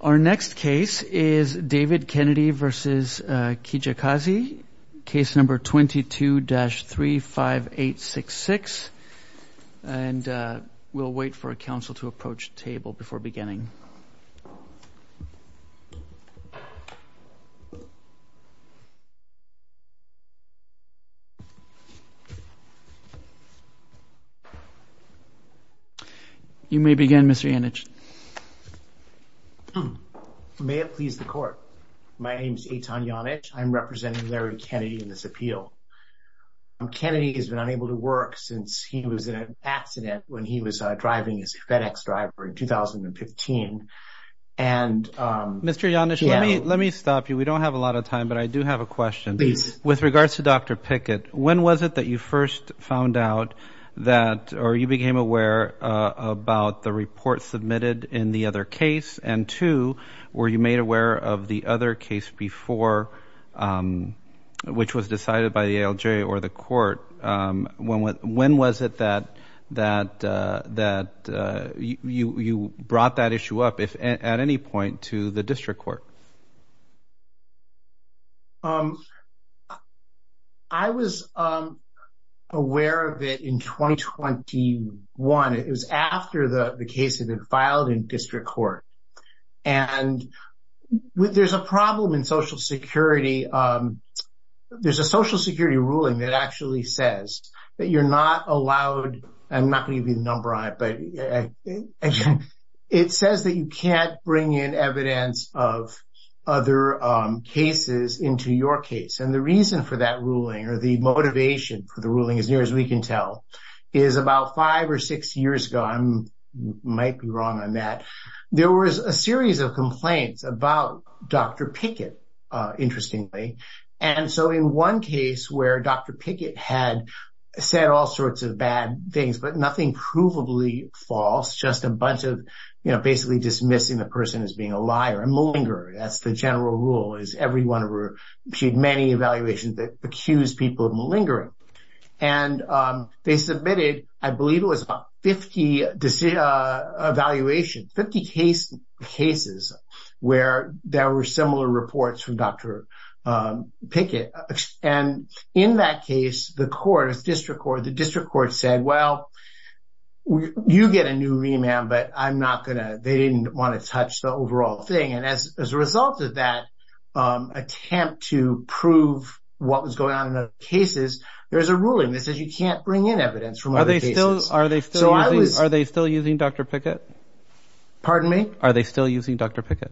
Our next case is David Kennedy v. Kijakazi, case number 22-35866, and we'll wait for a May it please the court. My name is Eitan Janich. I'm representing Larry Kennedy in this appeal Kennedy has been unable to work since he was in an accident when he was driving his FedEx driver in 2015 and Mr. Janich, let me let me stop you. We don't have a lot of time, but I do have a question. Please with regards to dr Pickett, when was it that you first found out that or you became aware? About the report submitted in the other case and two were you made aware of the other case before? Which was decided by the ALJ or the court when what when was it that that that You you brought that issue up if at any point to the district court I Was aware of it in 2021 it was after the the case had been filed in district court and With there's a problem in Social Security There's a Social Security ruling that actually says that you're not allowed and not going to be the number on it, but Again, it says that you can't bring in evidence of other Cases into your case and the reason for that ruling or the motivation for the ruling as near as we can tell Is about five or six years ago. I'm Might be wrong on that. There was a series of complaints about dr. Pickett Interestingly, and so in one case where dr. Pickett had said all sorts of bad things But nothing provably false just a bunch of you know, basically dismissing the person as being a liar and malinger that's the general rule is every one of her she'd many evaluations that accused people of malingering and They submitted I believe it was about 50 Evaluation 50 case cases where there were similar reports from dr. Pickett and in that case the court is district or the district court said well You get a new remand, but I'm not gonna they didn't want to touch the overall thing. And as a result of that Attempt to prove what was going on in other cases There's a ruling that says you can't bring in evidence from are they still are they still are they still using dr. Pickett? Pardon me. Are they still using dr. Pickett?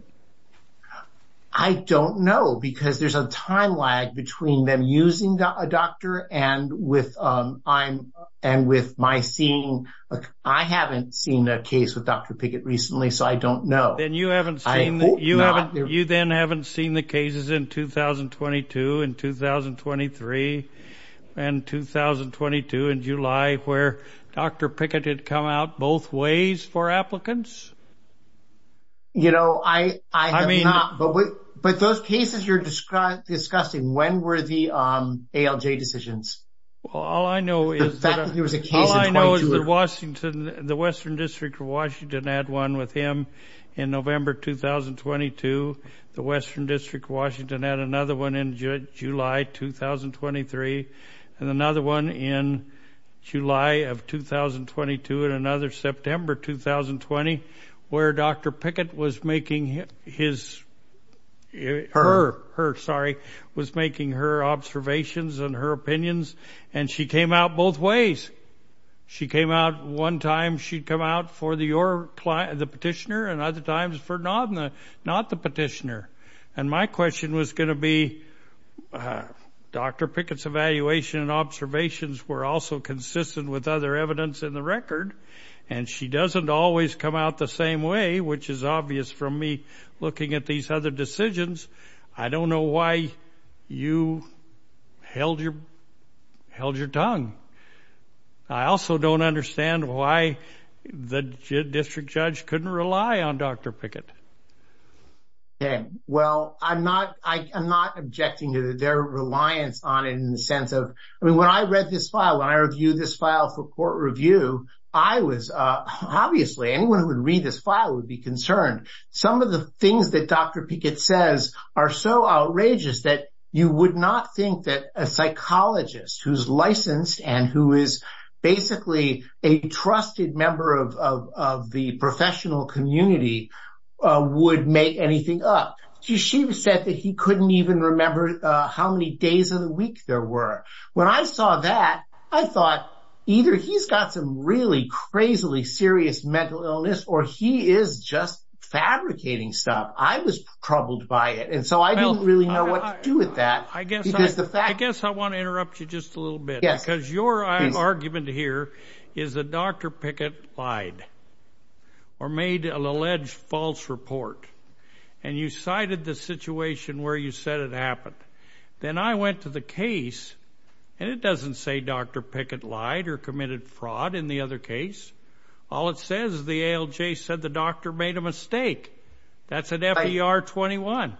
I Don't know because there's a time lag between them using a doctor and with I'm and with my seeing I haven't seen a case with dr. Pickett recently, so I don't know then you haven't seen you Then haven't seen the cases in 2022 in 2023 and 2022 in July where dr. Pickett had come out both ways for applicants You know, I I mean, but with but those cases you're described discussing when were the ALJ decisions? Well, all I know is that there was a case I know is that Washington the Western District of Washington had one with him in November 2022 the Western District of Washington had another one in July 2023 and another one in July of 2022 and another September 2020 where dr. Pickett was making his Her her sorry was making her observations and her opinions and she came out both ways She came out one time she'd come out for the or the petitioner and other times for not not the petitioner and my question was going to be Dr. Pickett's evaluation and observations were also consistent with other evidence in the record and She doesn't always come out the same way, which is obvious from me looking at these other decisions. I don't know why you held your held your tongue I also don't understand why the district judge couldn't rely on dr. Pickett Okay. Well, I'm not I'm not objecting to their reliance on in the sense of I mean when I read this file I reviewed this file for court review. I was Obviously anyone who would read this file would be concerned some of the things that dr Pickett says are so outrageous that you would not think that a Psychologist who's licensed and who is basically a trusted member of the professional community Would make anything up she said that he couldn't even remember how many days of the week there were When I saw that I thought either he's got some really crazily serious mental illness or he is just Fabricating stuff. I was troubled by it. And so I don't really know what to do with that I guess I guess I want to interrupt you just a little bit because your argument here is the dr. Pickett lied Or made an alleged false report and you cited the situation where you said it happened Then I went to the case and it doesn't say dr. Pickett lied or committed fraud in the other case All it says the ALJ said the doctor made a mistake That's an FDR 21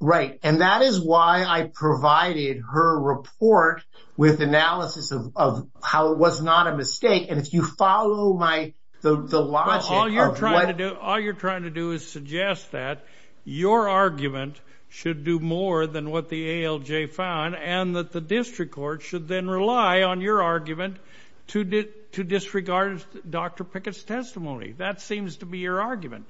Right, and that is why I provided her report with analysis of how it was not a mistake and if you follow my Logic, all you're trying to do. All you're trying to do is suggest that Your argument should do more than what the ALJ found and that the district court should then rely on your argument To did to disregard dr. Pickett's testimony. That seems to be your argument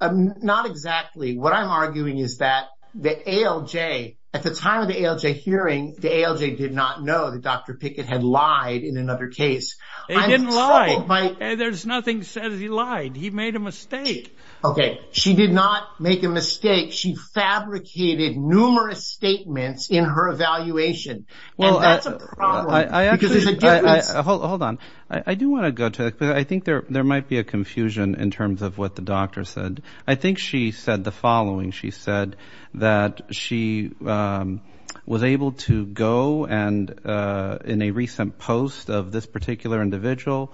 Not exactly what I'm arguing is that the ALJ at the time of the ALJ hearing the ALJ did not know that dr Pickett had lied in another case By there's nothing says he lied. He made a mistake. Okay, she did not make a mistake. She fabricated numerous statements in her evaluation Hold on I do want to go to it There might be a confusion in terms of what the doctor said, I think she said the following she said that she was able to go and in a recent post of this particular individual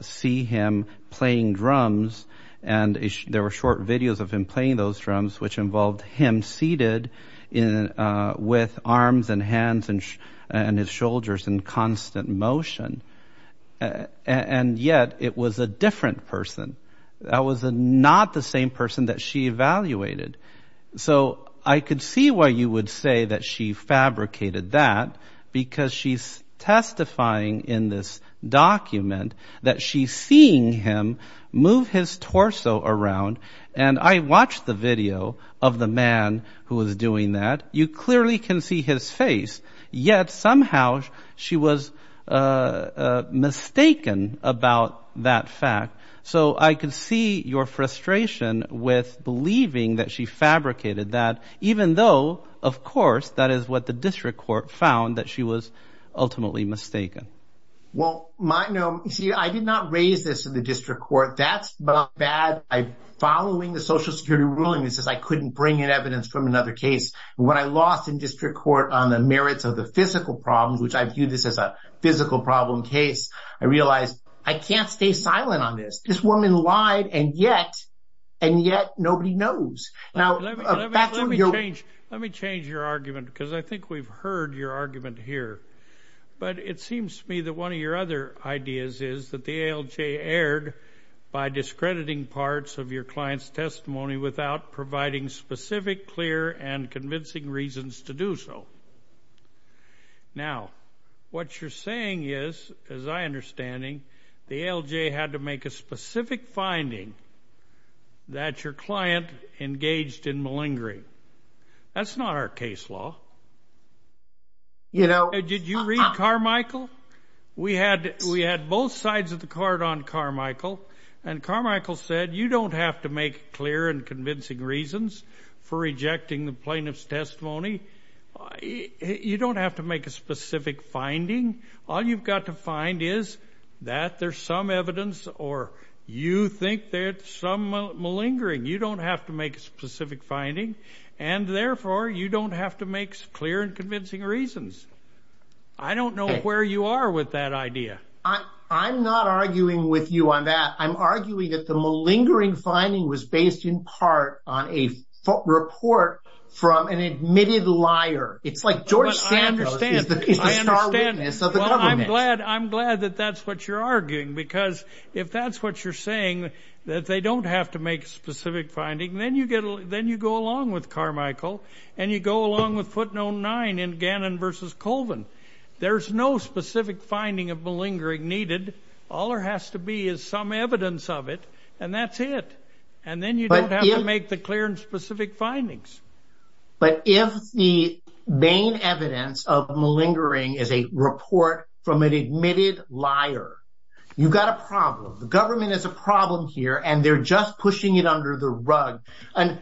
see him playing drums and There were short videos of him playing those drums which involved him seated in With arms and hands and and his shoulders in constant motion And yet it was a different person that was a not the same person that she evaluated so I could see why you would say that she fabricated that because she's testifying in this Document that she's seeing him move his torso around and I watched the video of the man Who was doing that you clearly can see his face yet. Somehow she was Mistaken about that fact so I could see your frustration with Believing that she fabricated that even though of course that is what the district court found that she was ultimately mistaken Well, my no see I did not raise this in the district court. That's bad I Following the Social Security ruling this is I couldn't bring in evidence from another case When I lost in district court on the merits of the physical problems, which I view this as a physical problem case I realized I can't stay silent on this this woman lied and yet and yet nobody knows now Let me change your argument because I think we've heard your argument here but it seems to me that one of your other ideas is that the ALJ aired by To do so Now what you're saying is as I understanding the ALJ had to make a specific finding That your client engaged in malingering That's not our case law You know, did you read Carmichael? We had we had both sides of the card on Carmichael and Carmichael said you don't have to make clear and convincing reasons For rejecting the plaintiff's testimony You don't have to make a specific finding all you've got to find is that there's some evidence or you think there's some malingering you don't have to make a specific finding and Therefore you don't have to make clear and convincing reasons. I Don't know where you are with that idea. I I'm not arguing with you on that Arguing that the malingering finding was based in part on a foot report from an admitted liar It's like George Sanders I'm glad that that's what you're arguing because if that's what you're saying that they don't have to make a specific Finding then you get then you go along with Carmichael and you go along with footnote 9 in Gannon versus Colvin There's no specific finding of malingering needed all there has to be is some evidence of it and that's it and Then you don't have to make the clear and specific findings but if the Main evidence of malingering is a report from an admitted liar You've got a problem. The government is a problem here, and they're just pushing it under the rug and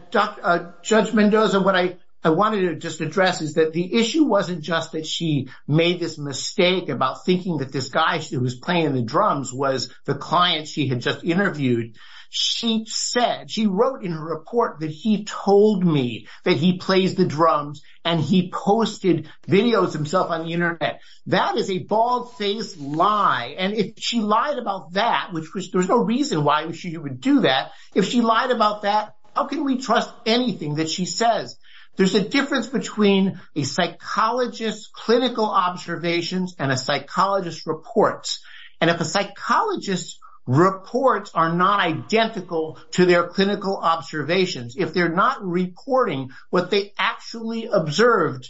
Judge Mendoza what I I wanted to just address is that the issue wasn't just that she made this mistake About thinking that this guy who was playing the drums was the client. She had just interviewed She said she wrote in her report that he told me that he plays the drums and he posted Videos himself on the internet that is a bald-faced lie And if she lied about that, which was there's no reason why we should you would do that if she lied about that how can we trust anything that she says there's a difference between a psychologist clinical observations and a psychologist reports and if a psychologist Reports are not identical to their clinical observations if they're not reporting what they actually observed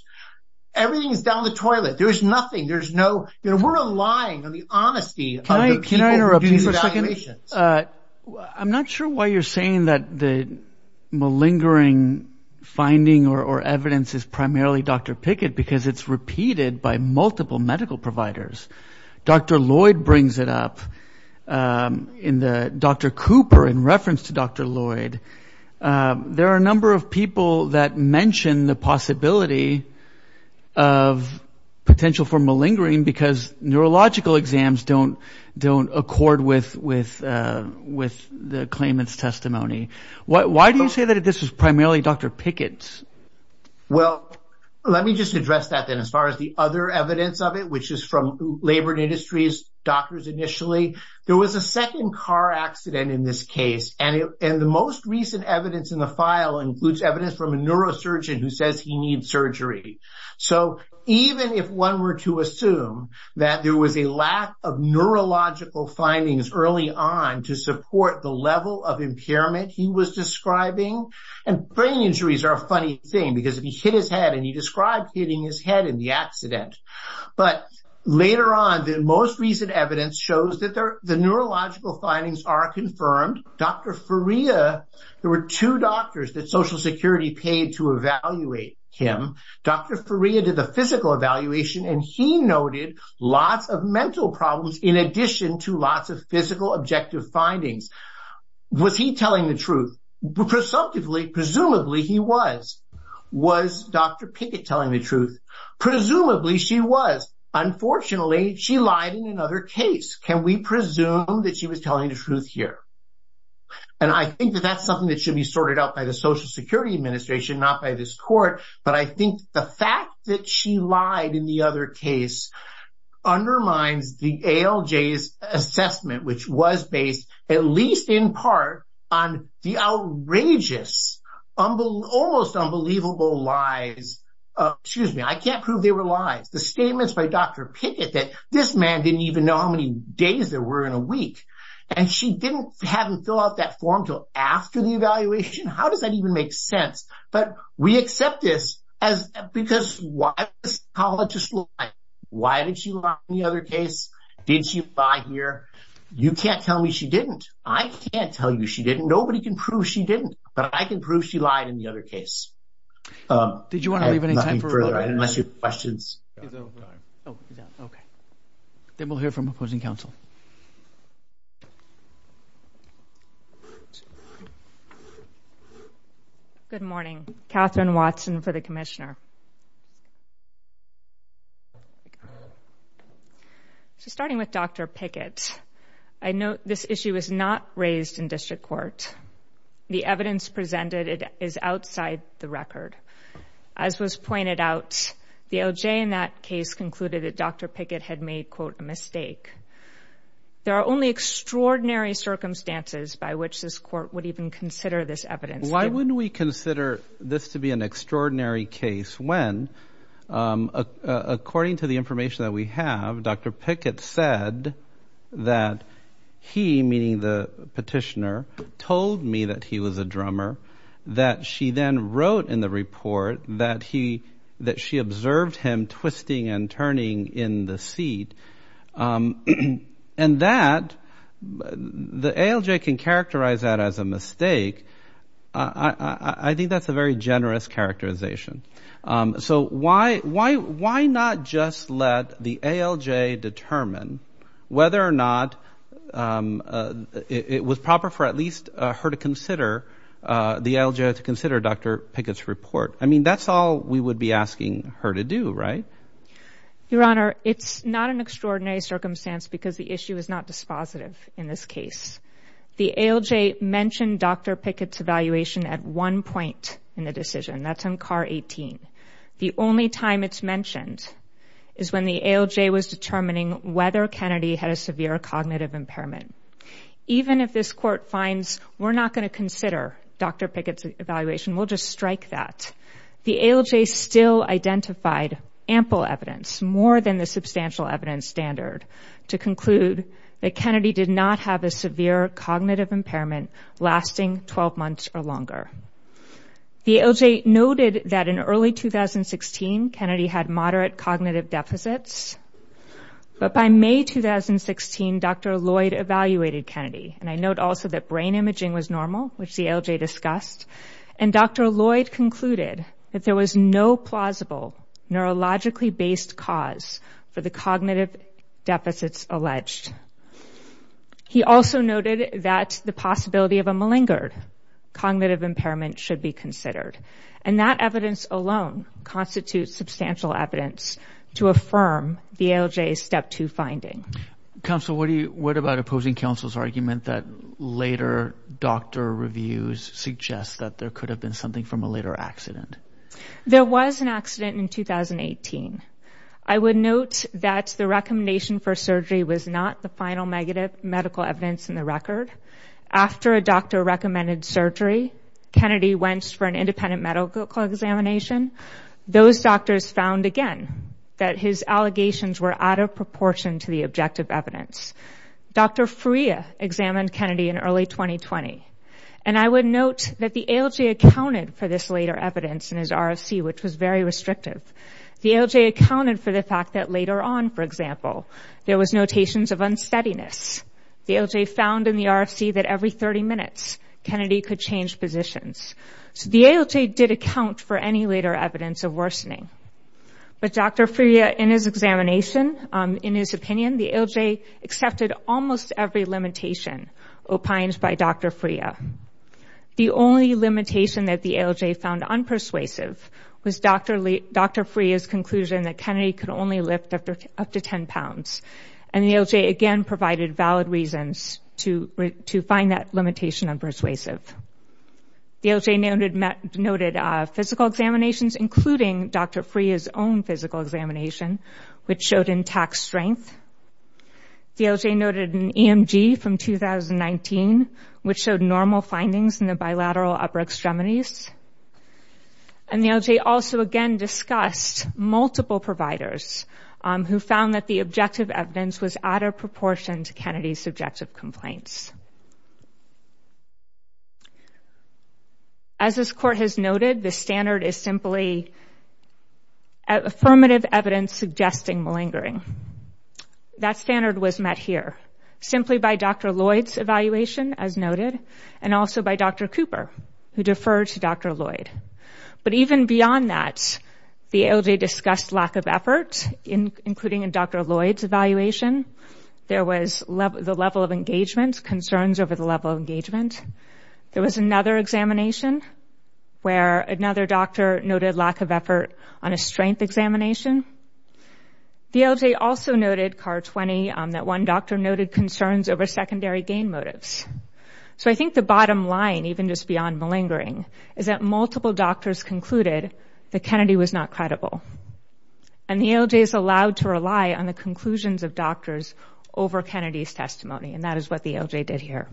Everything is down the toilet. There is nothing. There's no you know, we're relying on the honesty Interruptions I'm not sure why you're saying that the malingering Finding or evidence is primarily dr. Pickett because it's repeated by multiple medical providers. Dr. Lloyd brings it up In the dr. Cooper in reference to dr. Lloyd there are a number of people that mention the possibility of Potential for malingering because Neurological exams don't don't accord with with With the claimants testimony. Why do you say that? This is primarily dr. Pickett's Well, let me just address that then as far as the other evidence of it, which is from labored industries doctors Initially there was a second car accident in this case And and the most recent evidence in the file includes evidence from a neurosurgeon who says he needs surgery So even if one were to assume that there was a lack of Neurological findings early on to support the level of impairment He was describing and brain injuries are a funny thing because if he hit his head and he described hitting his head in the accident But later on the most recent evidence shows that there the neurological findings are confirmed. Dr Faria did the physical evaluation and he noted lots of mental problems in addition to lots of physical objective findings Was he telling the truth? Presumptively presumably he was was dr. Pickett telling the truth Presumably she was Unfortunately, she lied in another case. Can we presume that she was telling the truth here? And I think that that's something that should be sorted out by the Social Security Administration Not by this court, but I think the fact that she lied in the other case Undermines the ALJ's assessment, which was based at least in part on the outrageous humble almost unbelievable lies Excuse me. I can't prove they were lies the statements by dr Pickett that this man didn't even know how many days there were in a week and She didn't have him fill out that form till after the evaluation. How does that even make sense? but we accept this as Because what? Colleges like why did she walk the other case? Did she buy here? You can't tell me she didn't I can't tell you She didn't nobody can prove she didn't but I can prove she lied in the other case Did you want to leave any time for questions? Then we'll hear from opposing counsel Good Morning Catherine Watson for the Commissioner So starting with dr. Pickett, I know this issue is not raised in district court The evidence presented is outside the record as was pointed out the LJ in that case Concluded that dr. Pickett had made quote a mistake There are only extraordinary Circumstances by which this court would even consider this evidence. Why wouldn't we consider this to be an extraordinary case when? According to the information that we have dr. Pickett said that He meaning the petitioner told me that he was a drummer That she then wrote in the report that he that she observed him twisting and turning in the seat And that The ALJ can characterize that as a mistake. I Think that's a very generous characterization So why why why not just let the ALJ determine whether or not? It was proper for at least her to consider The LJ to consider dr. Pickett's report. I mean, that's all we would be asking her to do, right? Your honor it's not an extraordinary circumstance because the issue is not dispositive in this case the ALJ Mentioned dr. Pickett's evaluation at one point in the decision. That's in car 18 The only time it's mentioned is when the ALJ was determining whether Kennedy had a severe cognitive impairment Even if this court finds we're not going to consider dr. Pickett's evaluation We'll just strike that the ALJ still identified ample evidence more than the substantial evidence standard To conclude that Kennedy did not have a severe cognitive impairment lasting 12 months or longer The ALJ noted that in early 2016 Kennedy had moderate cognitive deficits but by May 2016 dr. Lloyd evaluated Kennedy and I note also that brain imaging was normal which the ALJ discussed and Dr. Lloyd concluded that there was no plausible Neurologically based cause for the cognitive deficits alleged He also noted that the possibility of a malingered Cognitive impairment should be considered and that evidence alone Constitutes substantial evidence to affirm the ALJ step to finding council What do you what about opposing counsel's argument that later? Doctor reviews suggests that there could have been something from a later accident There was an accident in 2018 I would note that the recommendation for surgery was not the final negative medical evidence in the record After a doctor recommended surgery Kennedy went for an independent medical examination Those doctors found again that his allegations were out of proportion to the objective evidence Dr. Freya examined Kennedy in early 2020 and I would note that the ALJ Accounted for this later evidence in his RFC, which was very restrictive the ALJ accounted for the fact that later on For example, there was notations of unsteadiness The ALJ found in the RFC that every 30 minutes Kennedy could change positions So the ALJ did account for any later evidence of worsening But dr. Freya in his examination in his opinion the ALJ accepted almost every limitation opines by dr. Freya The only limitation that the ALJ found unpersuasive was dr. Lee dr. Freya's conclusion that Kennedy could only lift after up to 10 pounds and the ALJ again provided valid reasons to to find that limitation and persuasive The ALJ noted physical examinations including dr. Freya's own physical examination which showed intact strength the ALJ noted an EMG from 2019 which showed normal findings in the bilateral upper extremities and The ALJ also again discussed multiple providers Who found that the objective evidence was out of proportion to Kennedy's subjective complaints? As this court has noted the standard is simply Affirmative evidence suggesting malingering That standard was met here simply by dr. Lloyd's evaluation as noted and also by dr. Cooper who deferred to dr. Lloyd, but even beyond that The ALJ discussed lack of effort in including in dr. Lloyd's evaluation There was love the level of engagement concerns over the level of engagement There was another examination Where another doctor noted lack of effort on a strength examination? The ALJ also noted car 20 that one doctor noted concerns over secondary gain motives so I think the bottom line even just beyond malingering is that multiple doctors concluded that Kennedy was not credible and The ALJ is allowed to rely on the conclusions of doctors over Kennedy's testimony. And that is what the ALJ did here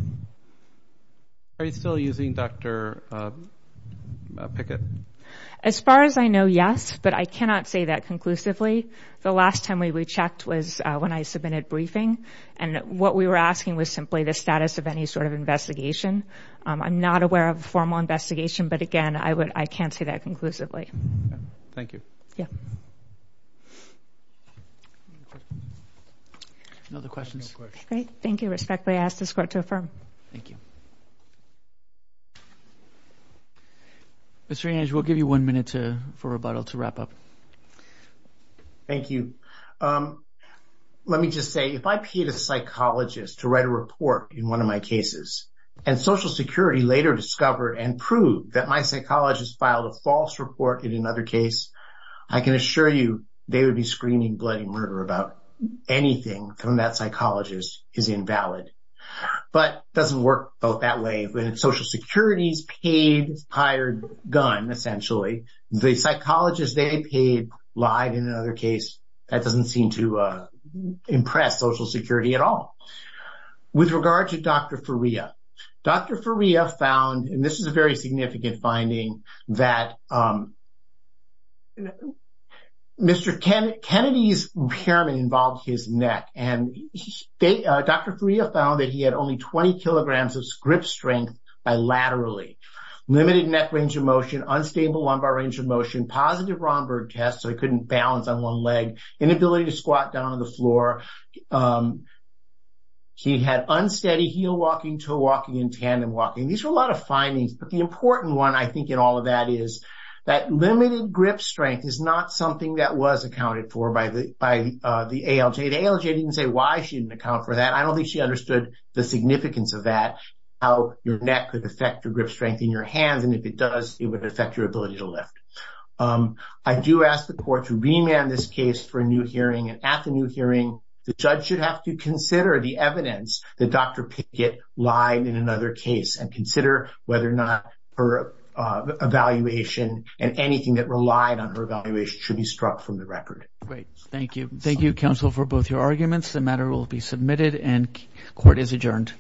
Are you still using dr? Pickett as far as I know, yes, but I cannot say that conclusively The last time we checked was when I submitted briefing and what we were asking was simply the status of any sort of investigation I'm not aware of a formal investigation. But again, I would I can't say that conclusively Thank you. Yeah No the questions, okay. Thank you respectfully ask this court to affirm. Thank you Mr. Ange, we'll give you one minute to for rebuttal to wrap up Thank you Let me just say if I paid a psychologist to write a report in one of my cases and Social Security later discovered and proved that my psychologist filed a false report in another case I can assure you they would be screaming bloody murder about Anything from that psychologist is invalid But doesn't work both that way when Social Security's paid hired gun Essentially the psychologist they paid lied in another case. That doesn't seem to Impress Social Security at all With regard to dr. Faria. Dr. Faria found and this is a very significant finding that Mr. Kennedy Kennedy's impairment involved his neck and They dr. Faria found that he had only 20 kilograms of grip strength bilaterally limited neck range of motion unstable lumbar range of motion positive Romberg test So he couldn't balance on one leg inability to squat down on the floor He had unsteady heel walking toe walking in tandem walking these are a lot of findings but the important one I think in all of That is that limited grip strength is not something that was accounted for by the by the ALJ The ALJ didn't say why she didn't account for that I don't think she understood the significance of that How your neck could affect your grip strength in your hands, and if it does it would affect your ability to lift I do ask the court to remand this case for a new hearing and at the new hearing The judge should have to consider the evidence that dr. Pickett lied in another case and consider whether or not her Evaluation and anything that relied on her evaluation should be struck from the record. Great. Thank you Thank you counsel for both your arguments. The matter will be submitted and court is adjourned